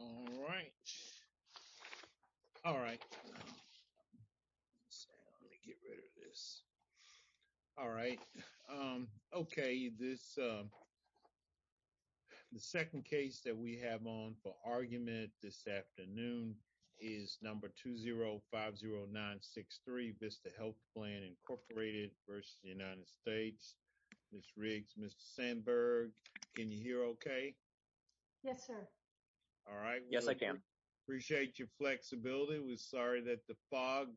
all right all right let me get rid of this all right um okay this um the second case that we have on for argument this afternoon is number two zero five zero nine six three vista health plan incorporated versus the united states miss riggs mr sandberg can you hear okay yes sir all right yes i can appreciate your flexibility we're sorry that the fog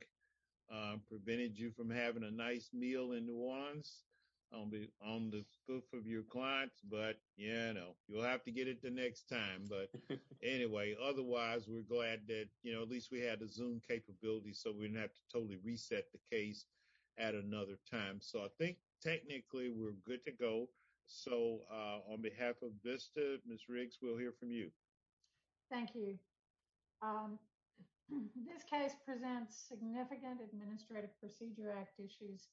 um prevented you from having a nice meal in nuance i'll be on the spoof of your clients but you know you'll have to get it the next time but anyway otherwise we're glad that you know at least we had a zoom capability so we didn't have to totally reset the case at another time so i think technically we're good to go so uh on behalf of vista miss riggs we'll hear from you thank you um this case presents significant administrative procedure act issues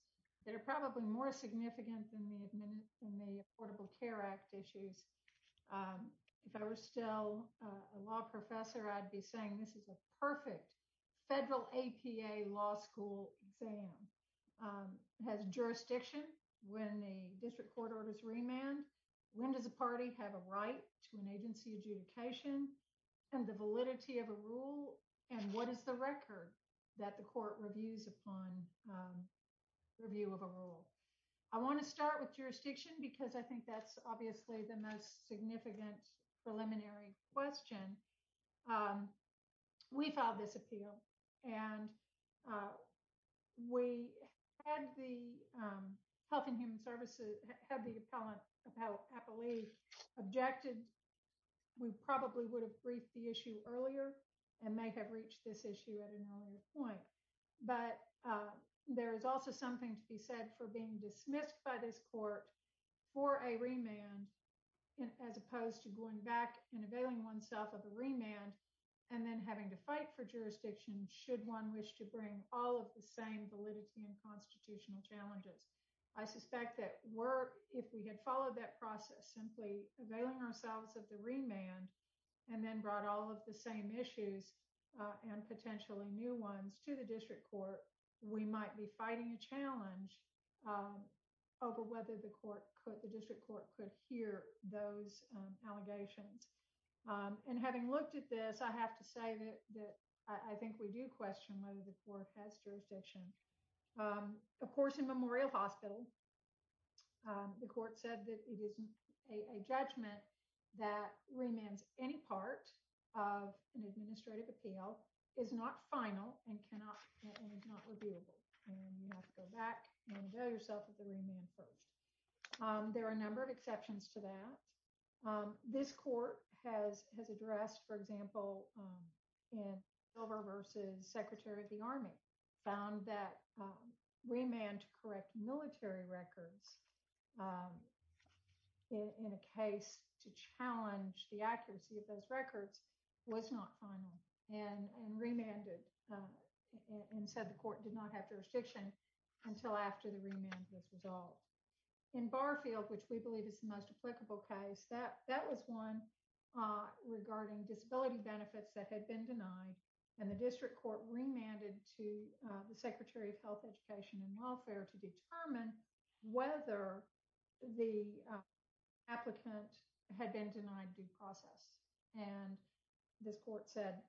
that are probably more significant than the admin in the affordable care act issues um if i was still a law professor i'd be saying this is a perfect federal apa law school exam um has jurisdiction when the district court orders remand when does the party have a right to an agency adjudication and the validity of a rule and what is the record that the court reviews upon um review of a rule i want to start with jurisdiction because i think that's obviously the most significant preliminary question um we filed this appeal and uh we had the um health and human services had the appellant of how i believe objected we probably would have briefed the issue earlier and may have reached this issue at an earlier point but uh there is also something to be said for being dismissed by this court for a remand as opposed to going back and availing oneself of a remand and then having to fight for jurisdiction should one wish to bring all of the same validity and constitutional challenges i suspect that were if we had followed that process simply availing ourselves of the remand and then brought all of the same issues and potentially new ones to the district court we might be fighting a challenge um over whether the court could the district court could hear those um allegations um and having looked at this i have to say that that i think we do question whether the court has jurisdiction um of course in memorial hospital um the court said that it isn't a judgment that remains any part of an administrative appeal is not final and cannot and is not reviewable and you have to go back and avail yourself of the remand first um there are a number of exceptions to that um this court has has addressed for example in silver versus secretary of the army found that remand to correct military records in a case to challenge the accuracy of those records was not final and and remanded and said the court did not have jurisdiction until after the remand was resolved in barfield which we believe is the most applicable case that that was one uh regarding disability benefits that had been denied and the district court remanded to the secretary of health education and welfare to determine whether the applicant had been denied due process and this court said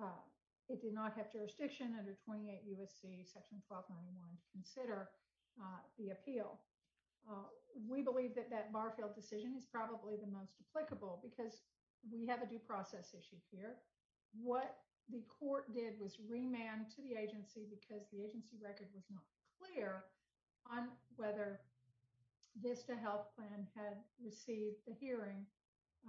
uh it did not have jurisdiction under 28 usc section 1291 to consider uh the appeal we believe that that barfield decision is probably the most applicable because we have a due process issue here what the court did was remand to the agency because the agency record was not clear on whether this to health plan had received the hearing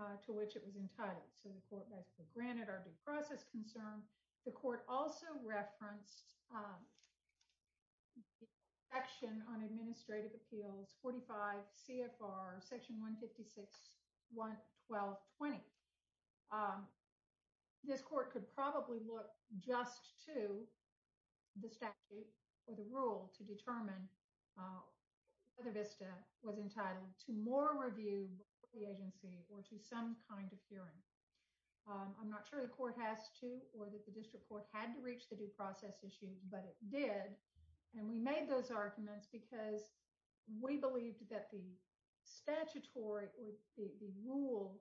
uh to which it was entitled so the court basically granted our due process concern the court also referenced um action on administrative appeals 45 cfr section 156 1 12 20 um this court could probably look just to the statute or the rule to determine uh whether vista was entitled to more review the agency or to some kind of hearing um i'm not sure the court has to or that the district court had to reach the due process issue but it did and we made those arguments because we believed that the statutory or the rule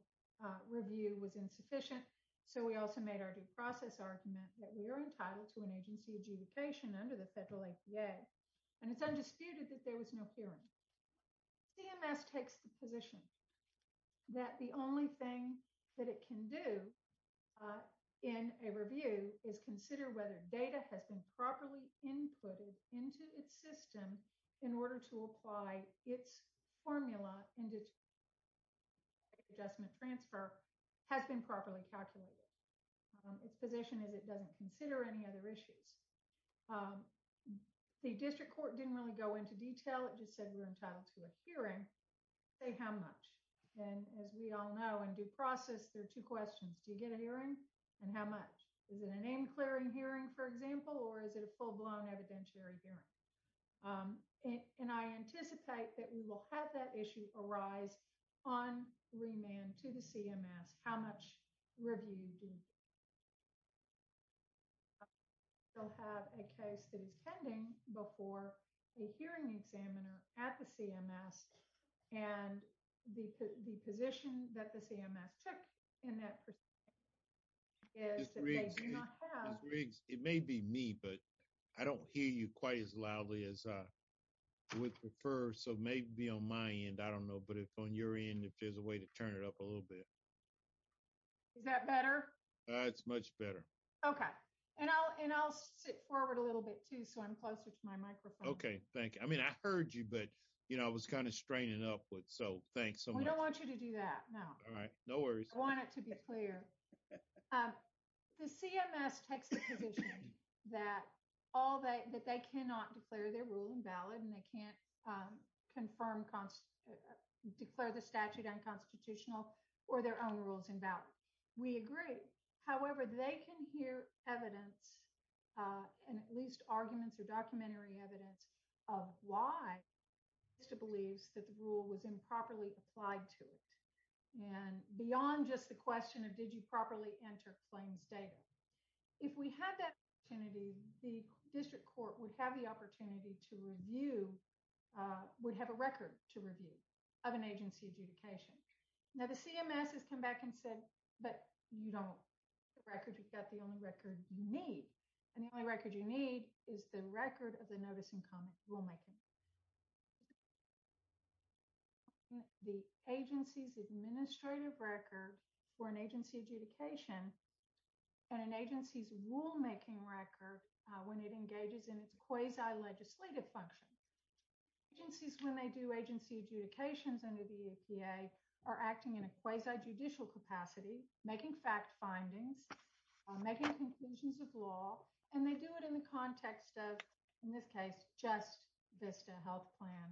review was insufficient so we also made our due process argument that we are entitled to an agency adjudication under the federal apa and it's that the only thing that it can do uh in a review is consider whether data has been properly inputted into its system in order to apply its formula into adjustment transfer has been properly calculated its position is it doesn't consider any other issues the district court didn't really go into detail it just said we're entitled to a hearing say how much and as we all know in due process there are two questions do you get a hearing and how much is it a name clearing hearing for example or is it a full-blown evidentiary hearing and i anticipate that we will have that issue arise on remand to the cms how much review do you still have a case that is pending before a hearing examiner at the cms and the position that the cms took in that is it may be me but i don't hear you quite as loudly as i would prefer so maybe on my end i don't know but if on your end if there's a way turn it up a little bit is that better that's much better okay and i'll and i'll sit forward a little bit too so i'm closer to my microphone okay thank you i mean i heard you but you know i was kind of straining upwards so thanks so much i don't want you to do that no all right no worries i want it to be clear um the cms takes the position that all that that they cannot declare their rule invalid and they can't confirm declare the statute unconstitutional or their own rules in value we agree however they can hear evidence uh and at least arguments or documentary evidence of why vista believes that the rule was improperly applied to it and beyond just the question of did you properly enter claims data if we had that opportunity the district court would have the opportunity to review uh would have a record to review of an agency adjudication now the cms has come back and said but you don't the record you've got the only record you need and the only record you need is the record of the notice in common rule making the agency's administrative record for an agency adjudication and an agency's rule making record when it engages in its quasi legislative function agencies when they do agency adjudications under the epa are acting in a quasi judicial capacity making fact findings making conclusions of law and they do it in the context of in this case just vista health plan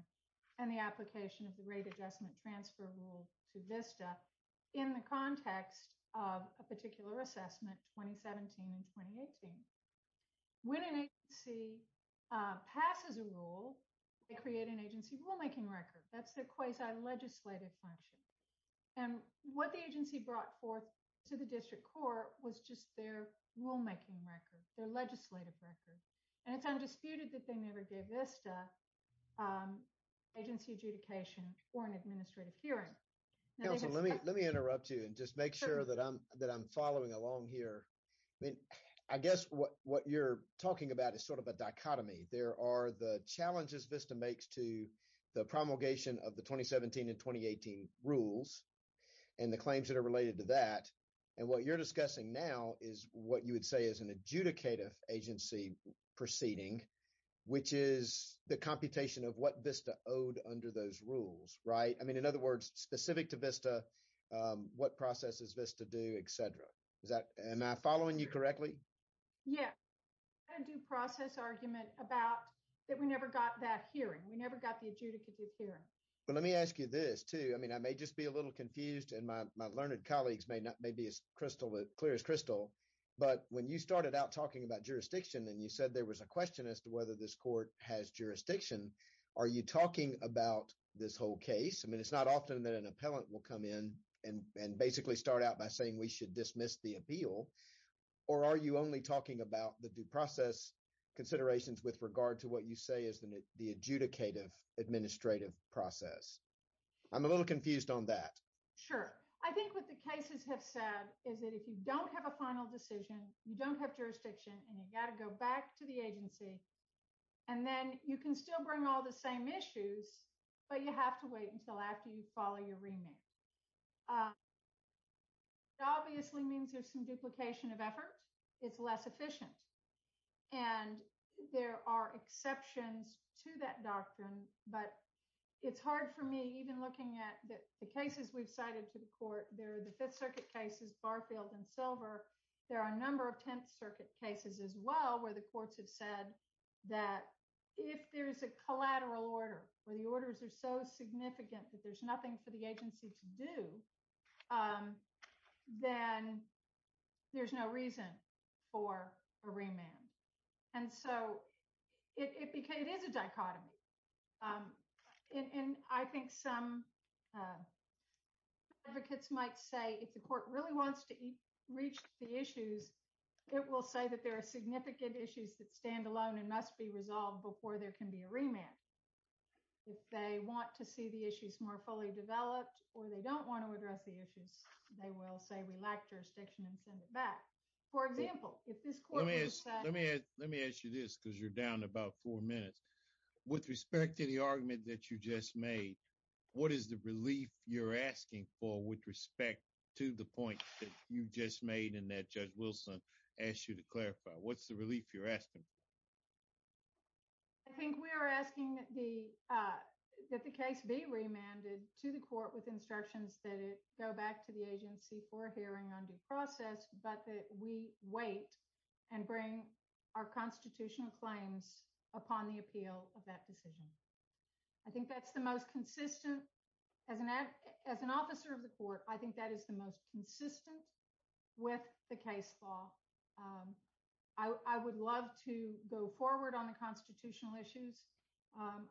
and the application of the rate adjustment transfer rule to vista in the context of a particular assessment 2017 and 2018 when an agency passes a rule they create an agency rule making record that's the quasi legislative function and what the agency brought forth to the district court was just their rule making record their legislative record and it's undisputed that they never gave vista um agency adjudication or an administrative hearing let me let me interrupt you and just make sure that i'm that i'm following along here i mean i guess what what you're talking about is sort of a dichotomy there are the challenges vista makes to the promulgation of the 2017 and 2018 rules and the claims that are related to that and what you're discussing now is what you would say is an adjudicative agency proceeding which is the computation of what vista owed under those rules right i mean in other words specific to vista um what processes this to do etc is that am i following you correctly yeah a due process argument about that we never got that hearing we never got the adjudicative hearing but let me ask you this too i mean i may just be a little confused and my learned colleagues may not may be as crystal clear as crystal but when you started out talking about jurisdiction and you said there was a question as to whether this court has jurisdiction are you talking about this whole case i mean it's not often that an appellant will come in and and basically start out by saying we should dismiss the appeal or are you only talking about the due process considerations with regard to what you say is the adjudicative administrative process i'm a little confused on that sure i think what the cases have said is that if you don't have a final decision you don't have jurisdiction and you got to go back to the agency and then you can still bring all the same issues but you have to wait until after you follow your remand it obviously means there's some duplication of effort it's less efficient and there are exceptions to that doctrine but it's hard for me even looking at the cases we've cited to the court there are the fifth circuit cases barfield and silver there are a number of tenth circuit cases as well where the courts have said that if there's a collateral order where the orders are so significant that there's nothing for the agency to do um then there's no reason for a remand and so it became it is a dichotomy um and and i think some uh advocates might say if the court really wants to reach the issues it will say that there are significant issues that stand alone and must be resolved before there can be a remand if they want to see the issues more fully developed or they don't want to address the issues they will say we lack jurisdiction and send it back for example if this court is let me let me ask you this because you're down about four minutes with respect to the argument that you just made what is the relief you're asking for with respect to the point that you just made and that judge wilson asked you to clarify what's the relief you're asking i think we are asking the uh that the case be remanded to the court with instructions that it go back to the agency for a hearing on due process but that we wait and bring our constitutional claims upon the appeal of that decision i think that's the most consistent as an ad as an officer of the court i think that is the most consistent with the case law i i would love to go forward on the constitutional issues um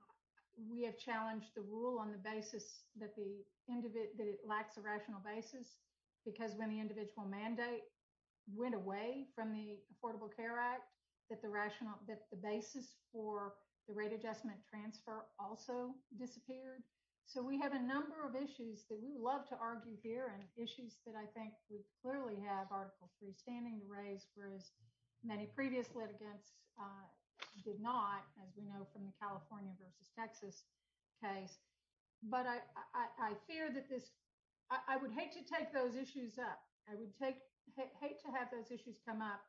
we have challenged the rule on the basis that the end of it that it lacks a rational basis because when the individual mandate went away from the affordable care act that the rational that the basis for the rate adjustment transfer also disappeared so we have a number of issues that we would love to argue here and issues that i think would clearly have article three standing to raise whereas many previous litigants did not as we know from the california versus texas case but i i fear that this i would hate to have those issues come up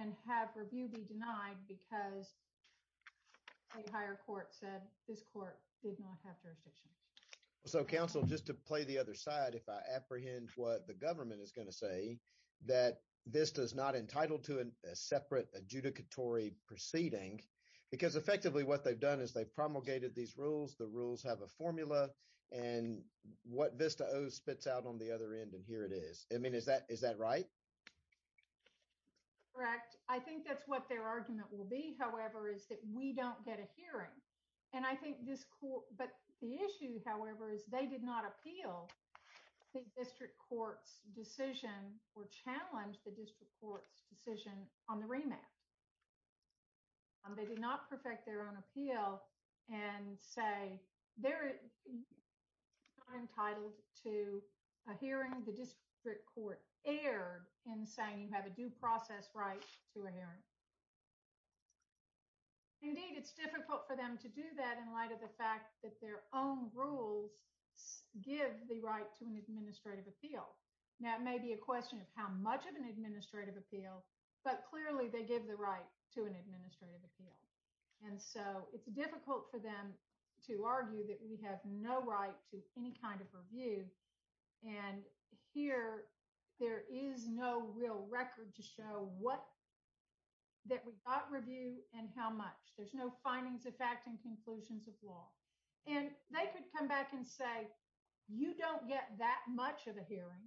and have review be denied because a higher court said this court did not have jurisdictions so council just to play the other side if i apprehend what the government is going to say that this does not entitle to a separate adjudicatory proceeding because effectively what they've done is they've promulgated these rules the rules have a formula and what vista o spits out on the other end and here it is i mean is that is that right correct i think that's what their argument will be however is that we don't get a hearing and i think this court but the issue however is they did not appeal the district court's decision or challenge the district court's decision on the remand they did not perfect their own appeal and say they're entitled to a hearing the district court erred in saying you have a due process right to a hearing indeed it's difficult for them to do that in light of the fact that their own rules give the right to an administrative appeal now it may be a question of how much of an administrative appeal and so it's difficult for them to argue that we have no right to any kind of review and here there is no real record to show what that we got review and how much there's no findings of fact and conclusions of law and they could come back and say you don't get that much of a hearing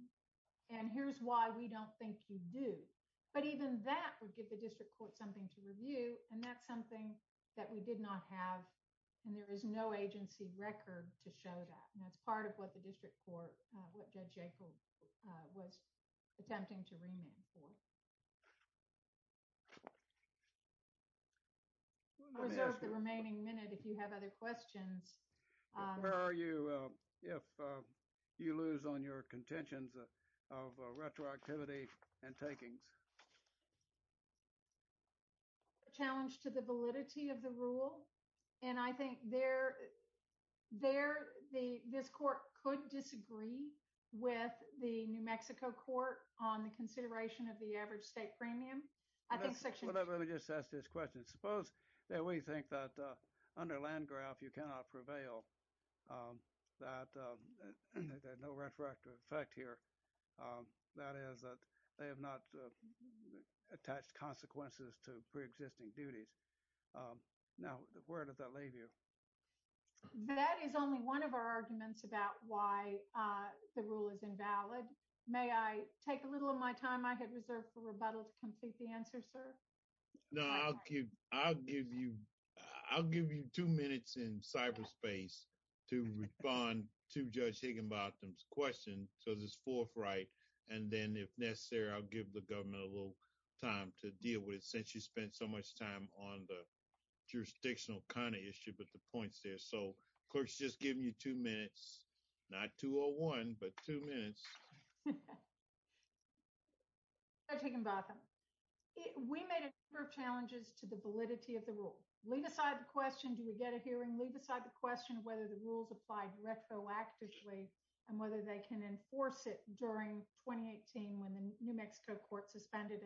and here's why we don't think you do but even that would give the district court a chance to review and that's something that we did not have and there is no agency record to show that and that's part of what the district court what judge jacob was attempting to remand for reserve the remaining minute if you have other questions where are you if you lose on your contentions of retroactivity and takings challenge to the validity of the rule and i think they're there the this court could disagree with the new mexico court on the consideration of the average state premium i think section whatever let me just ask this question suppose that we think that uh under land graph you cannot prevail um that uh no retroactive effect here um that is that they have not attached consequences to pre-existing duties um now where does that leave you that is only one of our arguments about why uh the rule is invalid may i take a little of my time i had reserved for rebuttal to complete the answer sir no i'll give i'll give you i'll give you two minutes in cyberspace to respond to judge higginbotham's question so this fourth right and then if necessary i'll give the government a little time to deal with it since you spent so much time on the jurisdictional kind of issue but the point's there so of course just giving you two minutes not 201 but two minutes judge higginbotham we made a number of challenges to the validity of the rule leave aside the question do we get a hearing leave aside the question whether the rules apply retroactively and whether they can enforce it during 2018 when the new mexico court suspended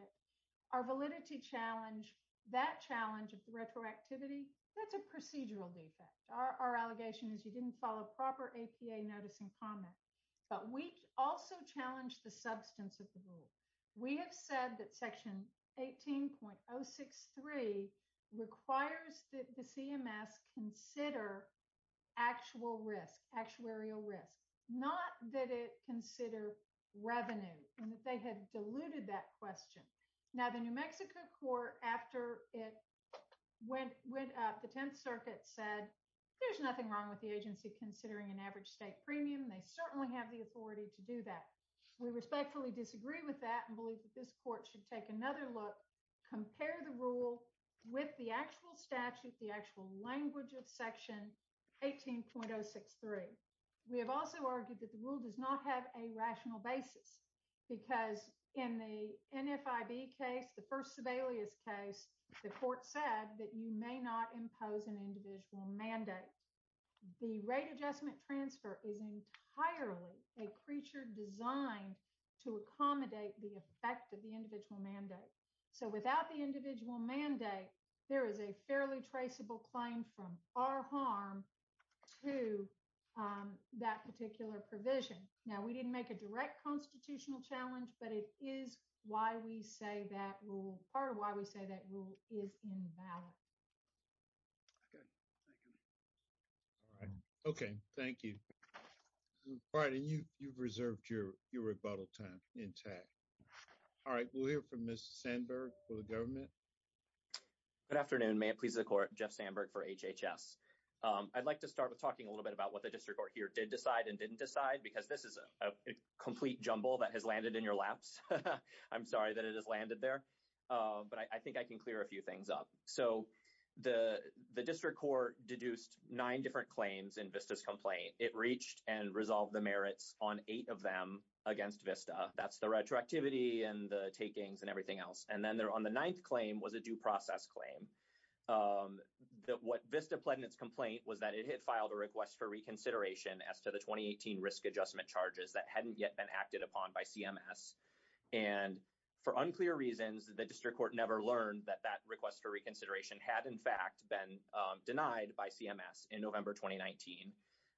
our validity challenge that challenge of the retroactivity that's a procedural defect our allegation is you didn't follow proper apa notice and comment but we also challenged the substance of the rule we have said that section 18.063 requires that the cms consider actual risk actuarial risk not that it consider revenue and that they had diluted that question now the new mexico court after it went went up the 10th circuit said there's nothing wrong with the agency considering an average state premium they certainly have the authority to do that we respectfully disagree with that and believe that this court should take another look compare the rule with the actual statute the actual language of section 18.063 we have also argued that the rule does not have a rational basis because in the nfib case the first sebelius case the court said that you may not impose an individual mandate the rate adjustment transfer is entirely a creature designed to accommodate the effect of the individual mandate so without the individual mandate there is a fairly traceable claim from our harm to that particular provision now we didn't make a direct constitutional challenge but it is why we say that rule part of why we say that rule is invalid okay thank you all right okay thank you all right and you you've reserved your your rebuttal time intact all right we'll hear from miss sandberg for the government good afternoon may it please the court jeff sandberg for hhs um i'd like to start with talking a little bit about what the district court here did decide and didn't decide because this is a complete jumble that has landed in your laps i'm sorry that it has landed there uh but i think i can clear a few things up so the the district court deduced nine different claims in vista's complaint it reached and resolved the merits on eight of them against vista that's the retroactivity and the takings and everything else and then there on the ninth claim was a due process claim um that what vista pled in its complaint was that it had filed a request for reconsideration as to the 2018 risk adjustment charges that hadn't yet been acted upon by cms and for unclear reasons the district court never learned that that request for reconsideration had in fact been denied by cms in november 2019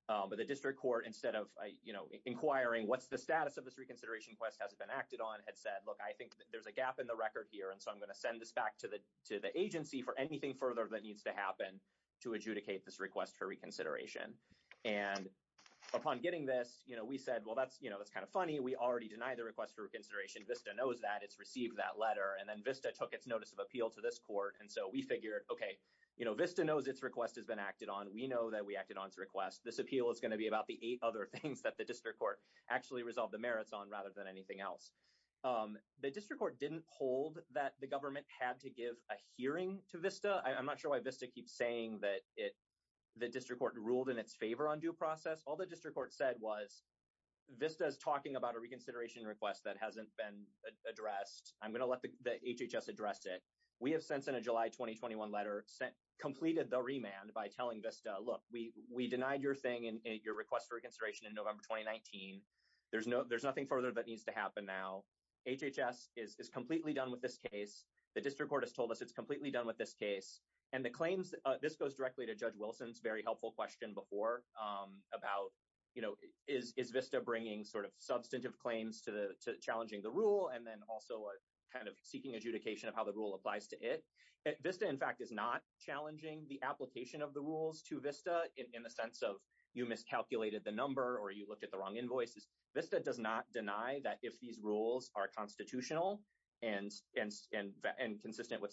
but the district court instead of you know inquiring what's the status of this reconsideration quest hasn't been acted on had said look i think there's a gap in the record here and so i'm going to send this back to the to the agency for anything further that needs to happen to adjudicate this request for reconsideration and upon getting this you know we said well that's you know that's kind of funny we already denied the request for reconsideration knows that it's received that letter and then vista took its notice of appeal to this court and so we figured okay you know vista knows its request has been acted on we know that we acted on its request this appeal is going to be about the eight other things that the district court actually resolved the merits on rather than anything else um the district court didn't hold that the government had to give a hearing to vista i'm not sure why vista keeps saying that it the district court ruled in its favor on due process all the district court said was vista is talking about a reconsideration request that hasn't been addressed i'm going to let the hhs address it we have since in a july 2021 letter sent completed the remand by telling vista look we we denied your thing and your request for reconsideration in november 2019 there's no there's nothing further that needs to happen now hhs is is completely done with this case the district court has told us it's completely done with this case and the claims this goes directly to judge wilson's very helpful question before um about you know is is vista bringing sort of substantive claims to the to challenging the rule and then also a kind of seeking adjudication of how the rule applies to it vista in fact is not challenging the application of the rules to vista in the sense of you miscalculated the number or you looked at the wrong invoices vista does not deny that if these rules are constitutional and and and consistent with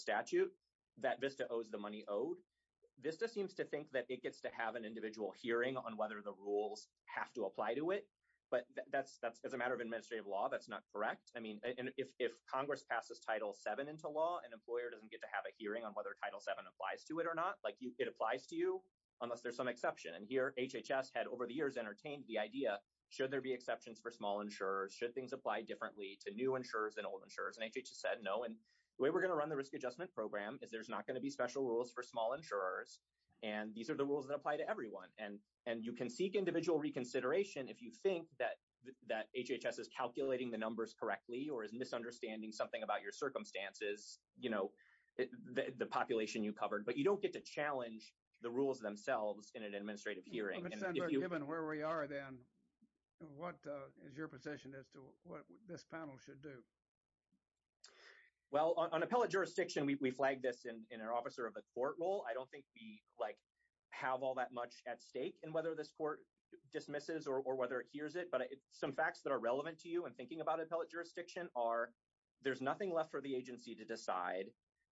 seems to think that it gets to have an individual hearing on whether the rules have to apply to it but that's that's as a matter of administrative law that's not correct i mean and if if congress passes title 7 into law an employer doesn't get to have a hearing on whether title 7 applies to it or not like you it applies to you unless there's some exception and here hhs had over the years entertained the idea should there be exceptions for small insurers should things apply differently to new insurers and old insurers and hhs said no and the way we're going to run the and these are the rules that apply to everyone and and you can seek individual reconsideration if you think that that hhs is calculating the numbers correctly or is misunderstanding something about your circumstances you know the population you covered but you don't get to challenge the rules themselves in an administrative hearing given where we are then what uh is your position as to what this panel should do well on appellate jurisdiction we flag this in in our officer of the court role i don't think we like have all that much at stake and whether this court dismisses or whether it hears it but some facts that are relevant to you and thinking about appellate jurisdiction are there's nothing left for the agency to decide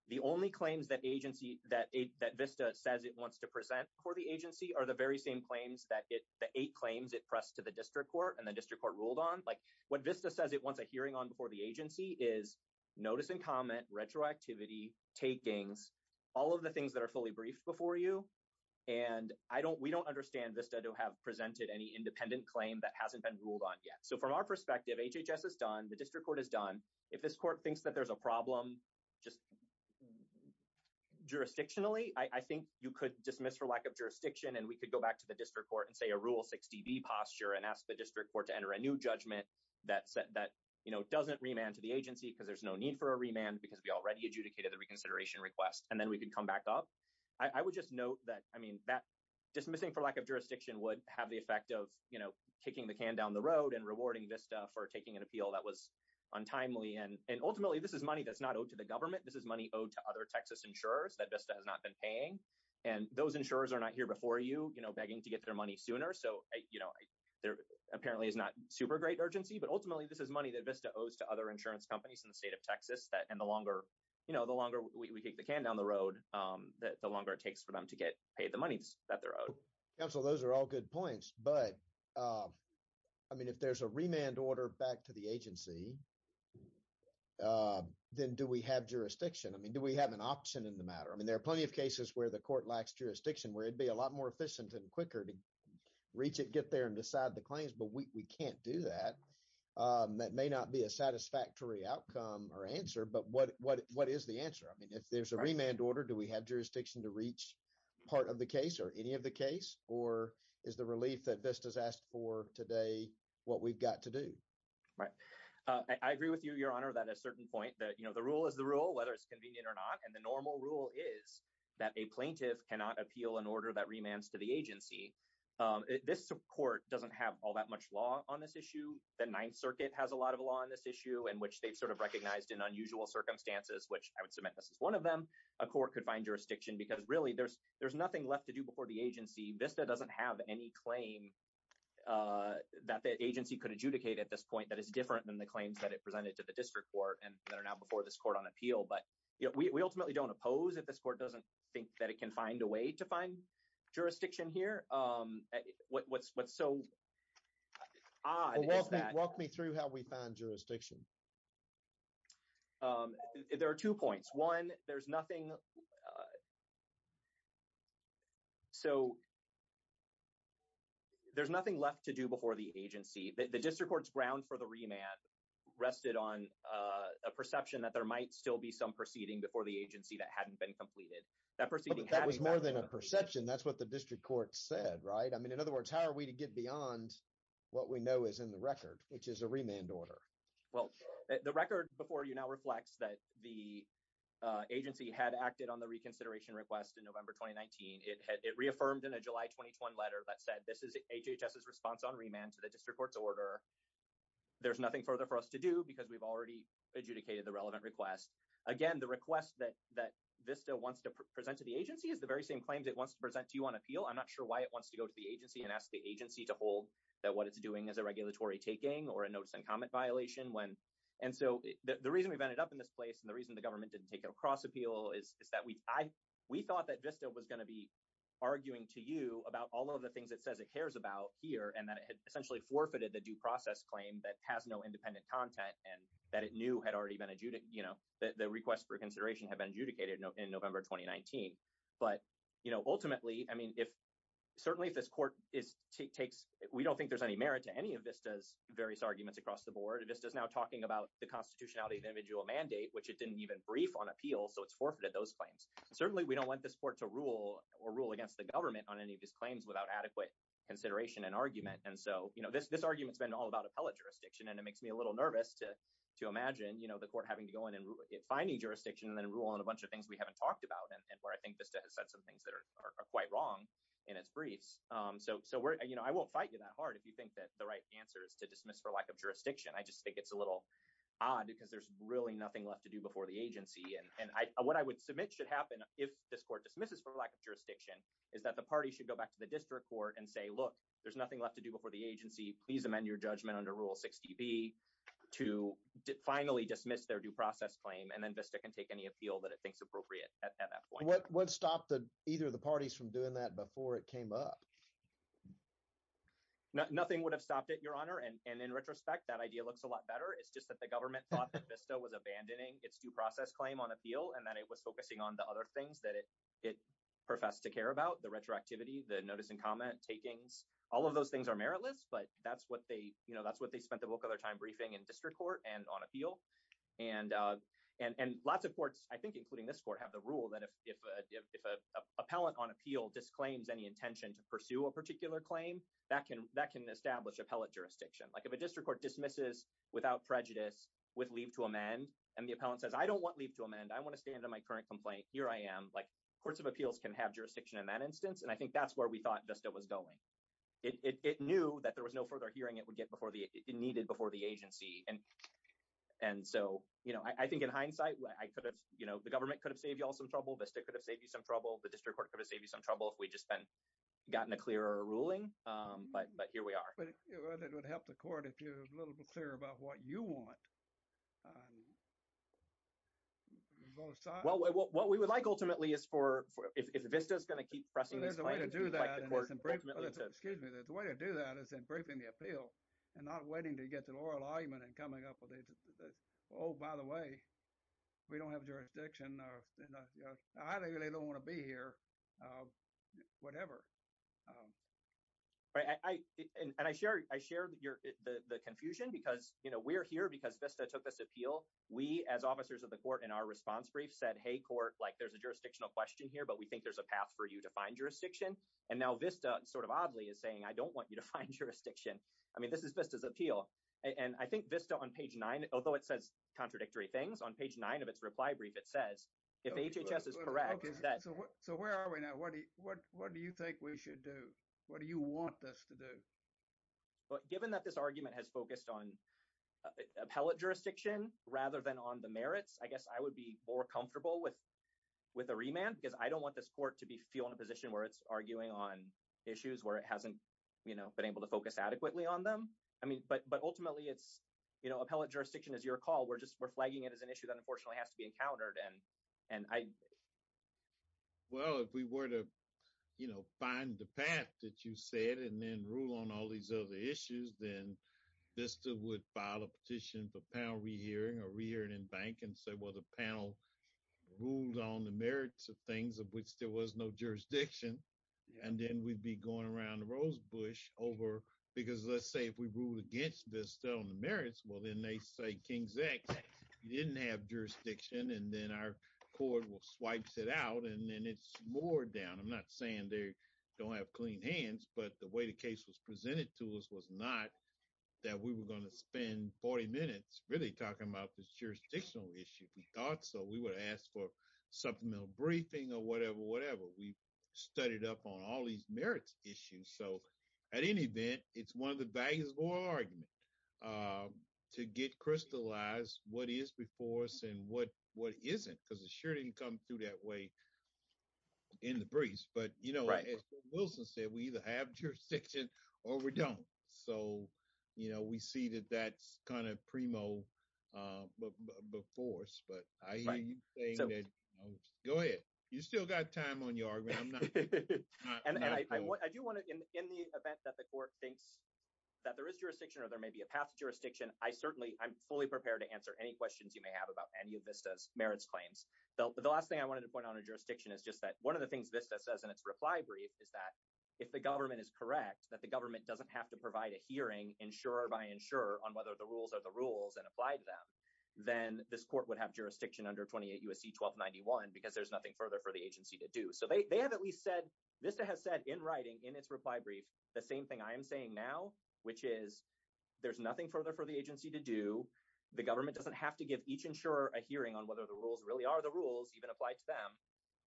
the only claims that agency that that vista says it wants to present before the agency are the very same claims that it the eight claims it pressed to the district court and the district court ruled on like what vista says it wants a hearing on before the agency is notice and comment retroactivity takings all of the things that are fully briefed before you and i don't we don't understand vista to have presented any independent claim that hasn't been ruled on yet so from our perspective hhs is done the district court is done if this court thinks that there's a problem just jurisdictionally i i think you could dismiss for lack of jurisdiction and we could go back to the district court and say a rule 60b posture and ask the district court to enter a new judgment that said that you know doesn't remand to the agency because there's no need for a remand because we already adjudicated the reconsideration request and then we could come back up i would just note that i mean that dismissing for lack of jurisdiction would have the effect of you know kicking the can down the road and rewarding vista for taking an appeal that was untimely and and ultimately this is money that's not owed to the government this is money owed to other texas insurers that vista has not been paying and those insurers are not here before you you know begging to get their money sooner so you know there apparently is not super great urgency but ultimately this is money that vista owes to other insurance companies in the state of texas that you know the longer we kick the can down the road the longer it takes for them to get paid the money that they're owed council those are all good points but i mean if there's a remand order back to the agency then do we have jurisdiction i mean do we have an option in the matter i mean there are plenty of cases where the court lacks jurisdiction where it'd be a lot more efficient and quicker to reach it get there and decide the claims but we can't do that that may not be a satisfactory outcome or answer but what what what is the answer i mean if there's a remand order do we have jurisdiction to reach part of the case or any of the case or is the relief that vista's asked for today what we've got to do right i agree with you your honor that a certain point that you know the rule is the rule whether it's convenient or not and the normal rule is that a plaintiff cannot appeal an order that remands to the agency this court doesn't have all which they've sort of recognized in unusual circumstances which i would submit this is one of them a court could find jurisdiction because really there's there's nothing left to do before the agency vista doesn't have any claim uh that the agency could adjudicate at this point that is different than the claims that it presented to the district court and that are now before this court on appeal but we ultimately don't oppose if this court doesn't think that it can find a way to find jurisdiction here um what's what's so odd is that walk me through how we found jurisdiction um there are two points one there's nothing uh so there's nothing left to do before the agency the district court's ground for the remand rested on uh a perception that there might still be some proceeding before the agency that hadn't been completed that proceeding that was more than a perception that's what the district court said right i mean in other words how are we to get beyond what we know is in the record which is a remand order well the record before you now reflects that the agency had acted on the reconsideration request in november 2019 it had it reaffirmed in a july 2021 letter that said this is hhs's response on remand to the district court's order there's nothing further for us to do because we've already adjudicated the relevant request again the request that that vista wants to present to the agency is the very same claims it wants to that what it's doing is a regulatory taking or a notice and comment violation when and so the reason we've ended up in this place and the reason the government didn't take it across appeal is is that we i we thought that vista was going to be arguing to you about all of the things it says it cares about here and that it had essentially forfeited the due process claim that has no independent content and that it knew had already been adjudic you know that the request for consideration had been adjudicated in november 2019 but you know ultimately i mean if certainly this court is takes we don't think there's any merit to any of vista's various arguments across the board this is now talking about the constitutionality of individual mandate which it didn't even brief on appeal so it's forfeited those claims certainly we don't want this court to rule or rule against the government on any of these claims without adequate consideration and argument and so you know this this argument's been all about appellate jurisdiction and it makes me a little nervous to to imagine you know the court having to go in and find a jurisdiction and then rule on a bunch of things we haven't talked about and where i think vista has said some things that are quite wrong in its briefs um so so we're you know i won't fight you that hard if you think that the right answer is to dismiss for lack of jurisdiction i just think it's a little odd because there's really nothing left to do before the agency and and i what i would submit should happen if this court dismisses for lack of jurisdiction is that the party should go back to the district court and say look there's nothing left to do before the agency please amend your judgment under rule 60b to finally dismiss their due process claim and then vista can take any appeal that it thinks appropriate at that point what what stopped the either of the parties from doing that before it came up nothing would have stopped it your honor and and in retrospect that idea looks a lot better it's just that the government thought that vista was abandoning its due process claim on appeal and that it was focusing on the other things that it it professed to care about the retroactivity the notice and comment takings all of those things are meritless but that's what they you know that's what they spent the bulk of their time briefing in district court and on appeal and uh and and lots of courts i think including this court have the rule that if if a if a appellant on appeal disclaims any intention to pursue a particular claim that can that can establish appellate jurisdiction like if a district court dismisses without prejudice with leave to amend and the appellant says i don't want leave to amend i want to stand on my current complaint here i am like courts of appeals can have jurisdiction in that instance and i think that's where we thought just it was going it it knew that there was no further hearing it would before the it needed before the agency and and so you know i think in hindsight i could have you know the government could have saved y'all some trouble vista could have saved you some trouble the district court could have saved you some trouble if we just been gotten a clearer ruling um but but here we are but it would help the court if you're a little bit clearer about what you want well what we would like ultimately is for if this is going to keep pressing there's a way to do that excuse me the way to do that is in briefing the appeal and not waiting to get an oral argument and coming up with it oh by the way we don't have jurisdiction or you know i really don't want to be here uh whatever um right i and i share i share your the the confusion because you know we're here because vista took this appeal we as officers of the court in our response brief said hey court like there's a jurisdictional question here but we think there's a path for you to find jurisdiction and now vista sort of oddly is saying i don't want you to find jurisdiction i mean this is vista's appeal and i think vista on page nine although it says contradictory things on page nine of its reply brief it says if hhs is correct so where are we now what do you what what do you think we should do what do you want us to do but given that this argument has focused on appellate jurisdiction rather than on the merits i guess i would be more comfortable with with a remand because i don't want this court to be feel in a position where it's arguing on issues where it hasn't you know been able to focus adequately on them i mean but but ultimately it's you know appellate jurisdiction is your call we're just we're flagging it as an issue that unfortunately has to be encountered and and i well if we were to you know find the path that you said and then rule on all these other issues then vista would file a petition for panel re-hearing or re-hearing in bank and say well the panel ruled on the merits of things of which there was no jurisdiction and then we'd be going around the rosebush over because let's say if we ruled against this still on the merits well then they say king's act didn't have jurisdiction and then our court will swipes it out and then it's more down i'm not saying they don't have clean hands but the way the case was presented to us was not that we were going to spend 40 minutes really talking about this jurisdictional issue if we thought so we would ask for supplemental briefing or whatever whatever we studied up on all these merits issues so at any event it's one of the values of oral argument um to get crystallized what is before us and what what isn't because it sure didn't come through that way in the briefs but you know as wilson said we either have or we don't so you know we see that that's kind of primo uh before us but i hear you saying that go ahead you still got time on your argument i'm not and i i do want to in in the event that the court thinks that there is jurisdiction or there may be a path to jurisdiction i certainly i'm fully prepared to answer any questions you may have about any of vista's merits claims the last thing i wanted to point out in jurisdiction is just that one of the things vista says in its reply brief is that if the government is correct that the government doesn't have to provide a hearing insurer by insurer on whether the rules are the rules and apply to them then this court would have jurisdiction under 28 usc 1291 because there's nothing further for the agency to do so they have at least said vista has said in writing in its reply brief the same thing i am saying now which is there's nothing further for the agency to do the government doesn't have to give each insurer a hearing on whether the rules really are the rules even applied to them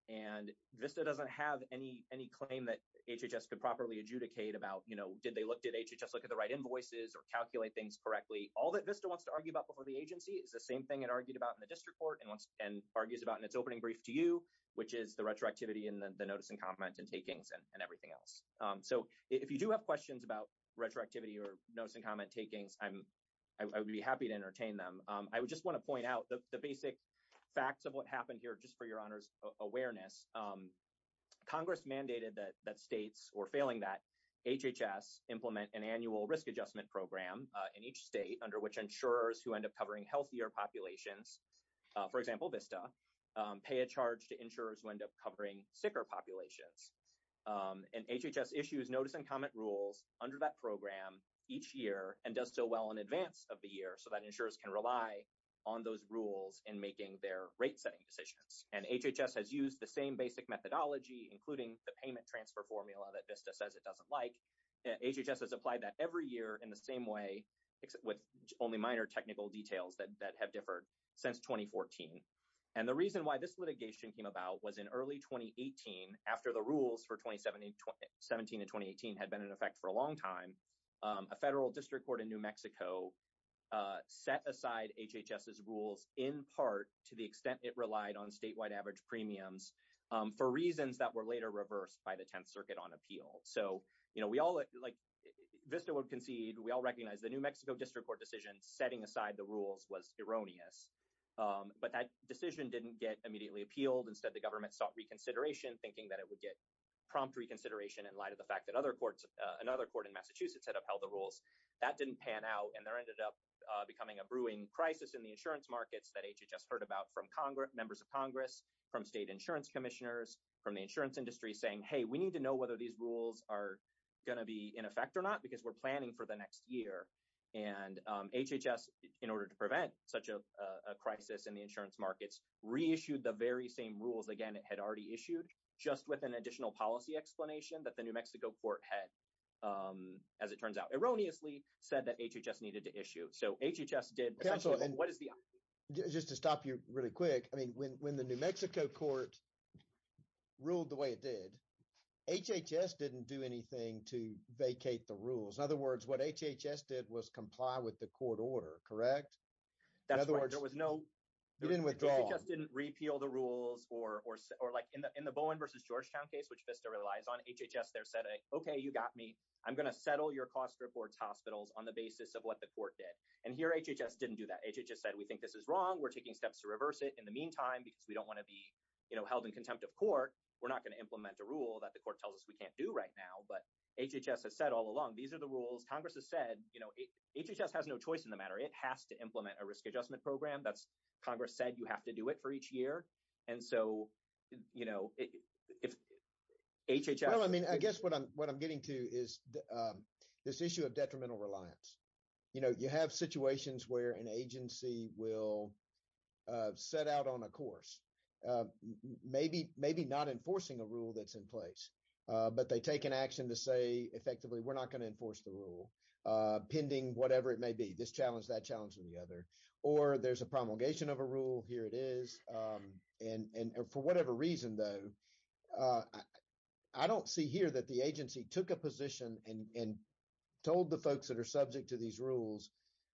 and vista doesn't have any any claim that hhs could properly adjudicate about you know did they look did hhs look at the right invoices or calculate things correctly all that vista wants to argue about before the agency is the same thing it argued about in the district court and once and argues about in its opening brief to you which is the retroactivity and the notice and comment and takings and everything else um so if you do have questions about retroactivity or notice and comment takings i'm i would be happy to entertain them um i would just want to point out the basic facts of what happened here just for your honor's awareness um congress mandated that that states were failing that hhs implement an annual risk adjustment program in each state under which insurers who end up covering healthier populations for example vista pay a charge to insurers who end up covering sicker populations um and hhs issues notice and comment rules under that program each year and does so well in advance of the year so that insurers can rely on those rules in making their rate setting decisions and hhs has used the same basic methodology including the payment transfer formula that vista says it doesn't like hhs has applied that every year in the same way except with only minor technical details that have differed since 2014 and the reason why this litigation came about was in early 2018 after the rules for 2017 17 and 2018 had been in effect for a long time um a federal district court in new mexico uh set aside hhs's rules in part to the extent it relied on statewide average premiums for reasons that were later reversed by the 10th circuit on appeal so you know we all like vista would concede we all recognize the new mexico district court decision setting aside the rules was erroneous um but that decision didn't get immediately appealed instead the government sought reconsideration thinking that it would get prompt reconsideration in light of the fact that another court in massachusetts had upheld the rules that didn't pan out and there ended up becoming a brewing crisis in the insurance markets that hhs heard about from congress members of congress from state insurance commissioners from the insurance industry saying hey we need to know whether these rules are going to be in effect or not because we're planning for the next year and hhs in order to prevent such a crisis in the insurance markets reissued the very same rules again it had already issued just with an additional policy explanation that the new mexico court had um as it turns out erroneously said that hhs needed to issue so hhs did cancel and what is the just to stop you really quick i mean when when the new mexico court ruled the way it did hhs didn't do anything to vacate the rules in other words what hhs did was comply with the court order correct in other words there was no you didn't withdraw just didn't which vista relies on hhs there said okay you got me i'm gonna settle your cost reports hospitals on the basis of what the court did and here hhs didn't do that hhs said we think this is wrong we're taking steps to reverse it in the meantime because we don't want to be you know held in contempt of court we're not going to implement a rule that the court tells us we can't do right now but hhs has said all along these are the rules congress has said you know hhs has no choice in the matter it has to implement a risk adjustment program that's congress said you have to do it and so you know if hhs well i mean i guess what i'm what i'm getting to is this issue of detrimental reliance you know you have situations where an agency will set out on a course maybe maybe not enforcing a rule that's in place but they take an action to say effectively we're not going to enforce the rule pending whatever it may be this challenge that challenge or the other or there's a promulgation of a rule here it is um and and for whatever reason though uh i don't see here that the agency took a position and told the folks that are subject to these rules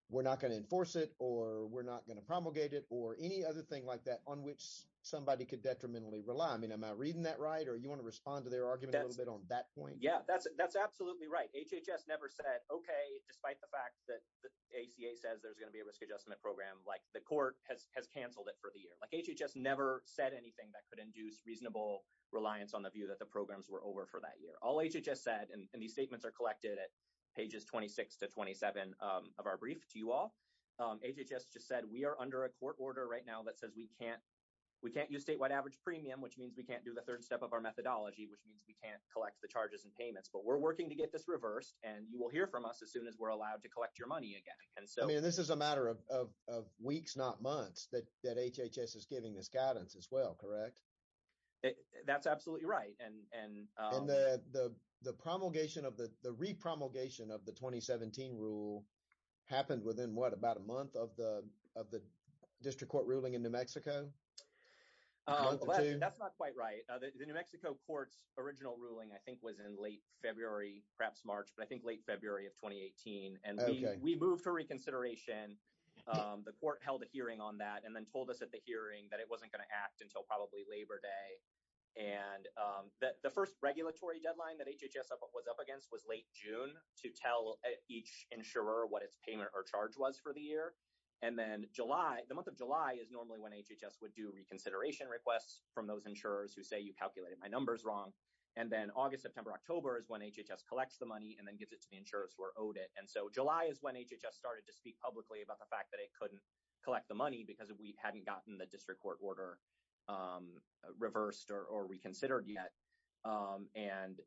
we're not going to enforce it or we're not going to promulgate it or any other thing like that on which somebody could detrimentally rely i mean am i reading that right or you want to respond to their argument a little bit on that point yeah that's absolutely right hhs never said okay despite the fact that the aca says there's going to be a risk adjustment program like the court has has canceled it for the year like hhs never said anything that could induce reasonable reliance on the view that the programs were over for that year all hhs said and these statements are collected at pages 26 to 27 of our brief to you all um hhs just said we are under a court order right now that says we can't we can't use statewide average premium which means we can't do the third step of our methodology which means we can't collect the charges and payments but we're working to get this reversed and you will hear from us as soon as we're allowed to collect your money again and so i mean this is a matter of of weeks not months that that hhs is giving this guidance as well correct that's absolutely right and and um the the the promulgation of the the re-promulgation of the 2017 rule happened within what about a month of the of the district court ruling in new mexico that's not quite right the new mexico court's original ruling i think was in late february perhaps march but i think late february of 2018 and we we moved for reconsideration um the court held a hearing on that and then told us at the hearing that it wasn't going to act until probably labor day and um that the first regulatory deadline that hhs was up against was late june to tell each insurer what its payment or charge was for the year and then july the month of july is normally when hhs would do reconsideration requests from those insurers who say you calculated my numbers wrong and then august september october is when hhs collects the money and then gives it to the insurers who are owed it and so july is when hhs started to speak publicly about the fact that it couldn't collect the money because we hadn't gotten the district court order um reversed or reconsidered yet um and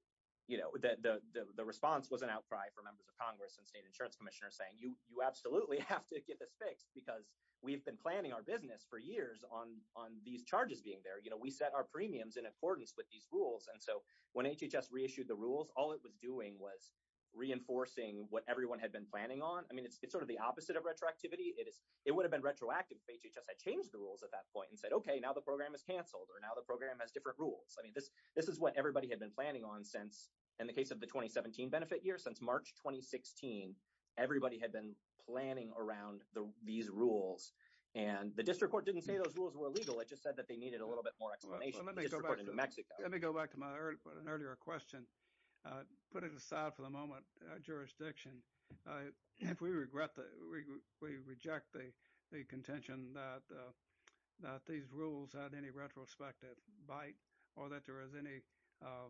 you know the the the response was an outcry for members of congress and state insurance commissioners saying you you absolutely have to get this fixed because we've been planning our business for years on on these charges being there you know we set our premiums in accordance with these rules and so when hhs reissued the rules all it was doing was reinforcing what everyone had been planning on i mean it's sort of the opposite of retroactivity it is it would have been retroactive if hhs had changed the rules at that point and said okay now the program is canceled or now the program has different rules i mean this this is what everybody had been planning on since in the case of the 2017 benefit year since march 2016 everybody had been planning around the these rules and the district court didn't say those rules were illegal it just said that they needed a little bit more explanation in new mexico let me go back to my earlier question uh put it aside for the moment uh jurisdiction uh if we regret that we we reject the the contention that uh that these rules had any retrospective bite or that there is any uh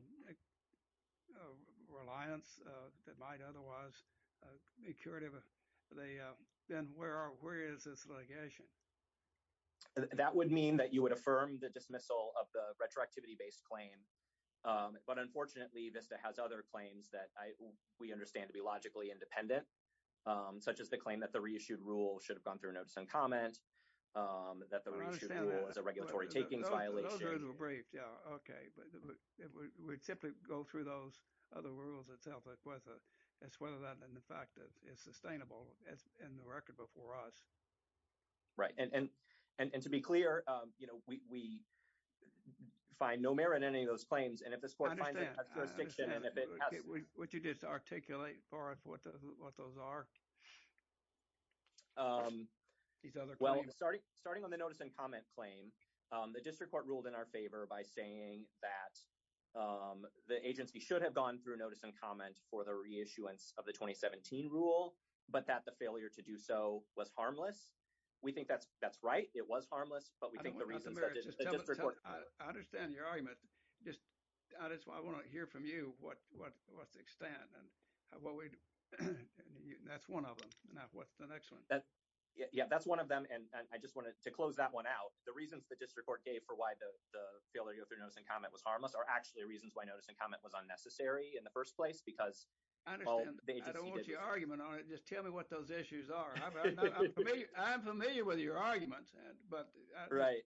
reliance uh that might otherwise uh be curative they uh then where are where is this litigation that would mean that you would affirm the dismissal of the retroactivity-based claim um but unfortunately vista has other claims that i we understand to be logically independent um such as the claim that the reissued rule should have gone through notice and comment um that the reissue was a regulatory takings violation okay but it would simply go through those other rules itself like whether that's whether that and the fact that it's sustainable as in the record before us right and and and to be clear um you know we we find no merit in any of those claims and if this would you just articulate for us what the what those are um these other well starting starting on the notice and comment claim um the district court ruled in our favor by saying that um the agency should have gone through notice and comment for the reissuance of the 2017 rule but that the failure to do so was harmless we think that's that's right it was harmless but we think the reasons i understand your argument just that's why i want to hear from you what what what's the extent and what we do that's one of them now what's the next one that yeah that's one of them and i just wanted to close that one out the reasons the district court gave for why the the failure to go through notice and comment was harmless are actually reasons why notice and comment was unnecessary in the first place because i don't want your argument on it just tell me what those issues are i'm familiar with your arguments and but right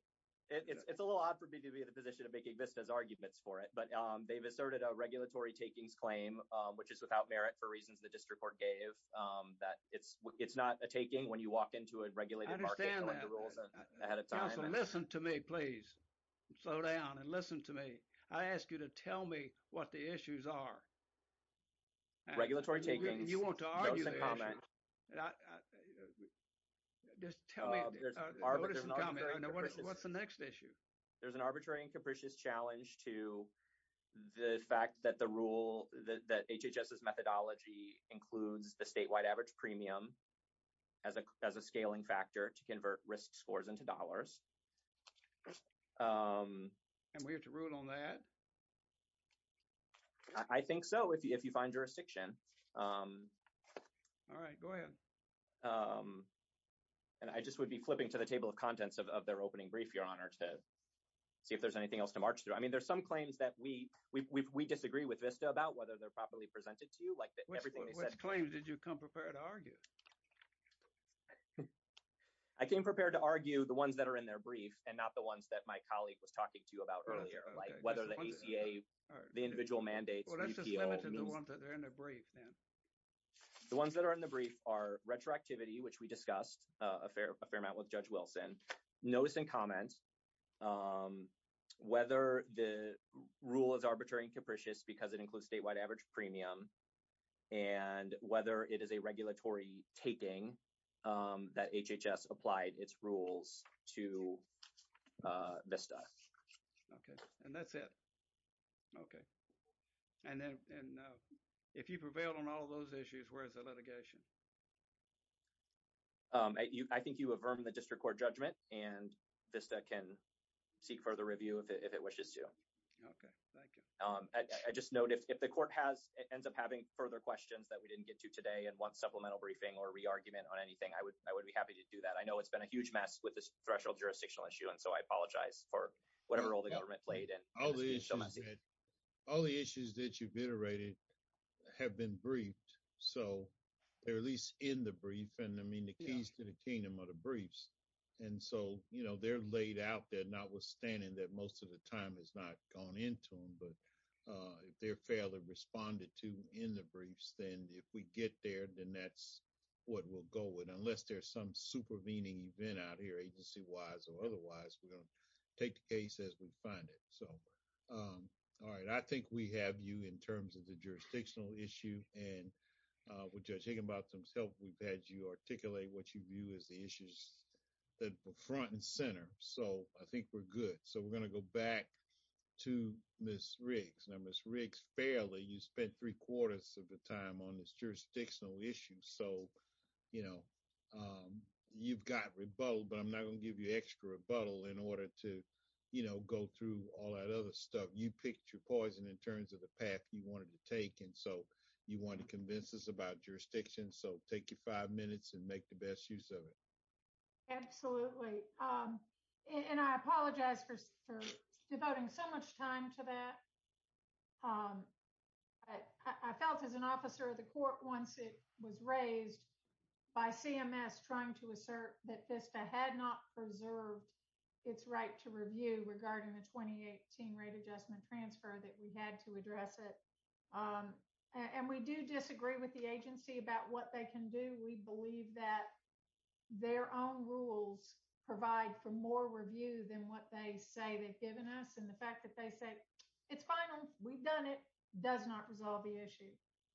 it's a little odd for me to be in the position of making business arguments for it but um they've asserted a regulatory takings claim which is without merit for reasons the district court gave um that it's it's not a taking when you walk into a regulated market ahead of time listen to me please slow down and listen to me i ask you to tell me what the issues are regulatory taking you want to argue not just tell me what's the next issue there's an arbitrary and capricious challenge to the fact that the rule that hhs's methodology includes the statewide average premium as a as a scaling factor to convert risk scores into dollars um and we have to rule on that i think so if you find jurisdiction um all right go ahead um and i just would be flipping to the table of contents of their opening brief your honor to see if there's anything else to march through i mean there's some claims that we we disagree with vista about whether they're properly presented to you like everything they said which claims did you come prepared to argue i came prepared to argue the ones that are in their brief and not the ones that my colleague was talking to you about earlier like whether the aca the individual mandates the ones that are in the brief are retroactivity which we discussed a fair a fair amount with judge wilson notice and comments um whether the rule is arbitrary and capricious because it includes statewide average premium and whether it is a regulatory taking um that hhs applied its rules to uh vista okay and that's it okay and then and uh if you prevail on all those issues where's the litigation um you i think you affirm the district court judgment and vista can seek further review if it wishes to okay thank you um i just note if the court has ends up having further questions that we didn't get to today and want supplemental briefing or re-argument on anything i would i it's been a huge mess with this threshold jurisdictional issue and so i apologize for whatever role the government played and all the issues all the issues that you've iterated have been briefed so they're at least in the brief and i mean the keys to the kingdom of the briefs and so you know they're laid out there notwithstanding that most of the time has not gone into them but uh if they're fairly responded to in the briefs then if we get there then that's what we'll go with unless there's some super meaning event out here agency-wise or otherwise we're going to take the case as we find it so um all right i think we have you in terms of the jurisdictional issue and uh with judge higginbotham's help we've had you articulate what you view as the issues that were front and center so i think we're good so we're going to go back to miss riggs now miss riggs fairly you spent three quarters of the time on this jurisdictional issue so you know um you've got rebuttal but i'm not going to give you extra rebuttal in order to you know go through all that other stuff you picked your poison in terms of the path you wanted to take and so you want to convince us about jurisdiction so take your five minutes and make the best use of it absolutely um and i apologize for devoting so much time to that um i i felt as an officer of the court once it was raised by cms trying to assert that vista had not preserved its right to review regarding the 2018 rate adjustment transfer that we had to address it um and we do disagree with the agency about what they can do we believe that their own rules provide for more review than what they say they've given us and the fact that they say it's final we've done it does not resolve the issue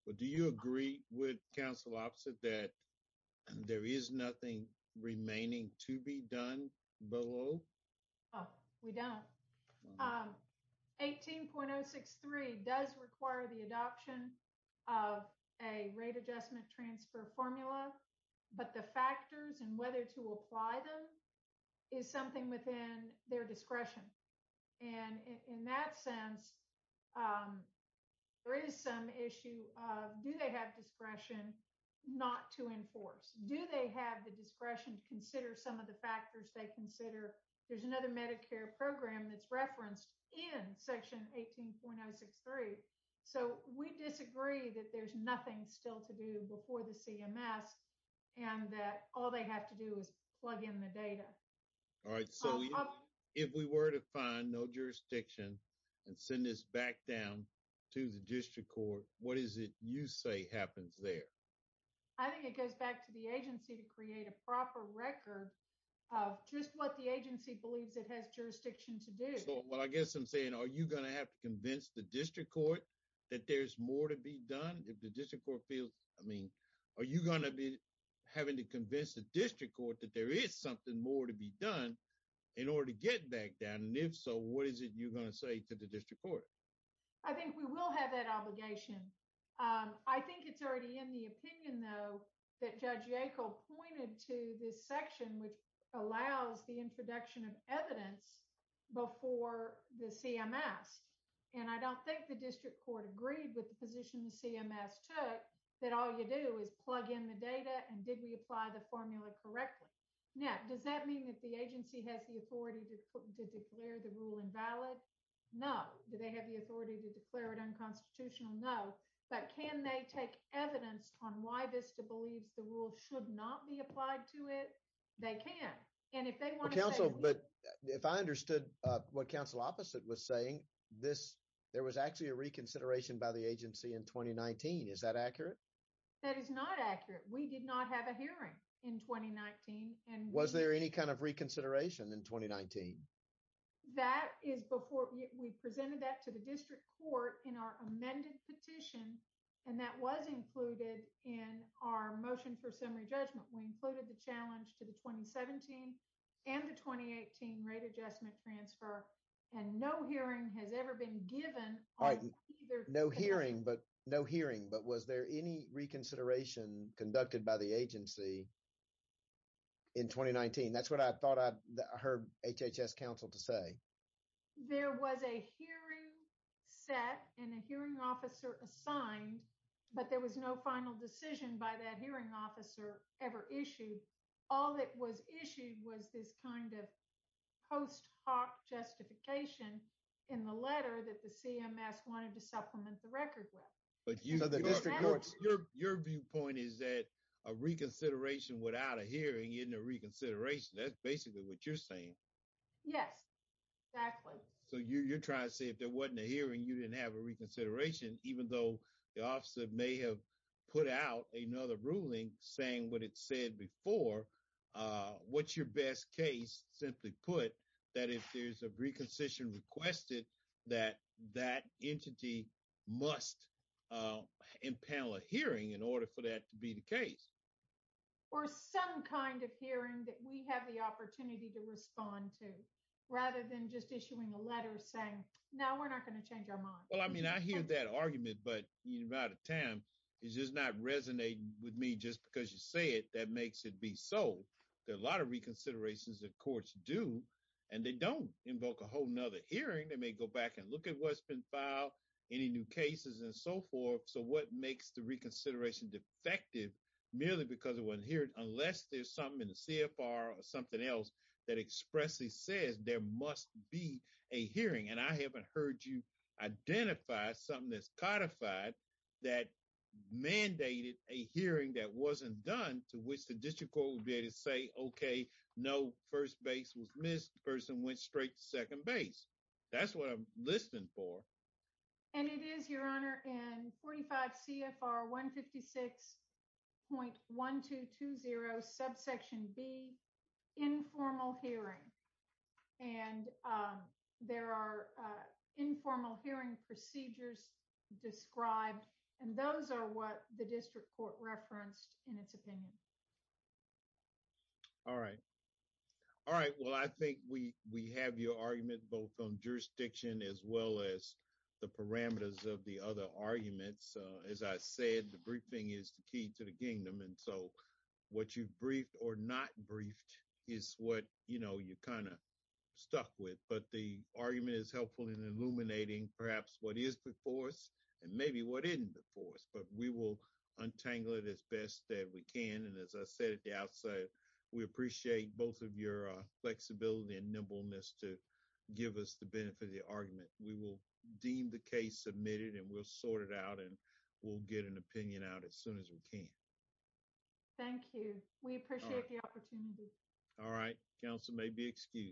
but do you agree with council opposite that there is nothing remaining to be done below oh we don't um 18.063 does require the adoption of a rate adjustment transfer formula but the factors and whether to apply them is something within their discretion and in that sense um there is some issue of do they have discretion not to enforce do they have the discretion to consider some of the factors they consider there's another medicare program that's referenced in section 18.063 so we disagree that there's nothing still to do before the cms and that all they have to do is plug in the data all right so if we were to find no jurisdiction and send this back down to the district court what is it you say happens there i think it goes back to the agency to create a proper record of just what the agency believes it has jurisdiction to do well i guess i'm saying are you going to have to convince the district court that there's more to be done if the district court feels i mean are you going to be having to convince the district court that there is something more to be done in order to get back down and if so what is it you're going to say to the district court i think we will have that obligation um i think it's already in the opinion though that judge yackel pointed to this section which allows the introduction of evidence before the cms and i don't think the district court agreed with the position the cms took that all you do is plug in the data and did we apply the formula correctly now does that mean that the agency has the authority to put to declare the rule invalid no do they have the authority to declare it unconstitutional no but can they take evidence on why vista believes the and if they want to counsel but if i understood uh what council opposite was saying this there was actually a reconsideration by the agency in 2019 is that accurate that is not accurate we did not have a hearing in 2019 and was there any kind of reconsideration in 2019 that is before we presented that to the district court in our amended petition and that was included in our motion for summary judgment we included the challenge to the 2017 and the 2018 rate adjustment transfer and no hearing has ever been given either no hearing but no hearing but was there any reconsideration conducted by the agency in 2019 that's what i thought i heard hhs council to say there was a hearing set and a hearing officer assigned but there was no final decision by that officer ever issued all that was issued was this kind of post hoc justification in the letter that the cms wanted to supplement the record with but you know the district your your viewpoint is that a reconsideration without a hearing in a reconsideration that's basically what you're saying yes exactly so you're trying to say if there wasn't a hearing you didn't have a saying what it said before uh what's your best case simply put that if there's a reconstitution requested that that entity must uh impound a hearing in order for that to be the case or some kind of hearing that we have the opportunity to respond to rather than just issuing a letter saying no we're not going to change our mind well i mean i hear that argument but you're out of time it's just not resonating with me just because you say it that makes it be so there are a lot of reconsiderations that courts do and they don't invoke a whole nother hearing they may go back and look at what's been filed any new cases and so forth so what makes the reconsideration defective merely because it wasn't here unless there's something in the cfr or something else that expressly says there must be a hearing and i haven't heard you identify something that's codified that mandated a hearing that wasn't done to which the district court would be able to say okay no first base was missed person went straight to second base that's what i'm listening for and it is your honor in 45 cfr 156.1220 subsection b informal hearing and um informal hearing procedures described and those are what the district court referenced in its opinion all right all right well i think we we have your argument both on jurisdiction as well as the parameters of the other arguments as i said the briefing is the key to the kingdom and so what you've briefed or not briefed is what you know you kind of stuck with but the argument is helpful in illuminating perhaps what is before us and maybe what isn't before us but we will untangle it as best that we can and as i said at the outset we appreciate both of your flexibility and nimbleness to give us the benefit of the argument we will deem the case submitted and we'll sort it out and we'll get an opinion out as soon as we can thank you we appreciate the you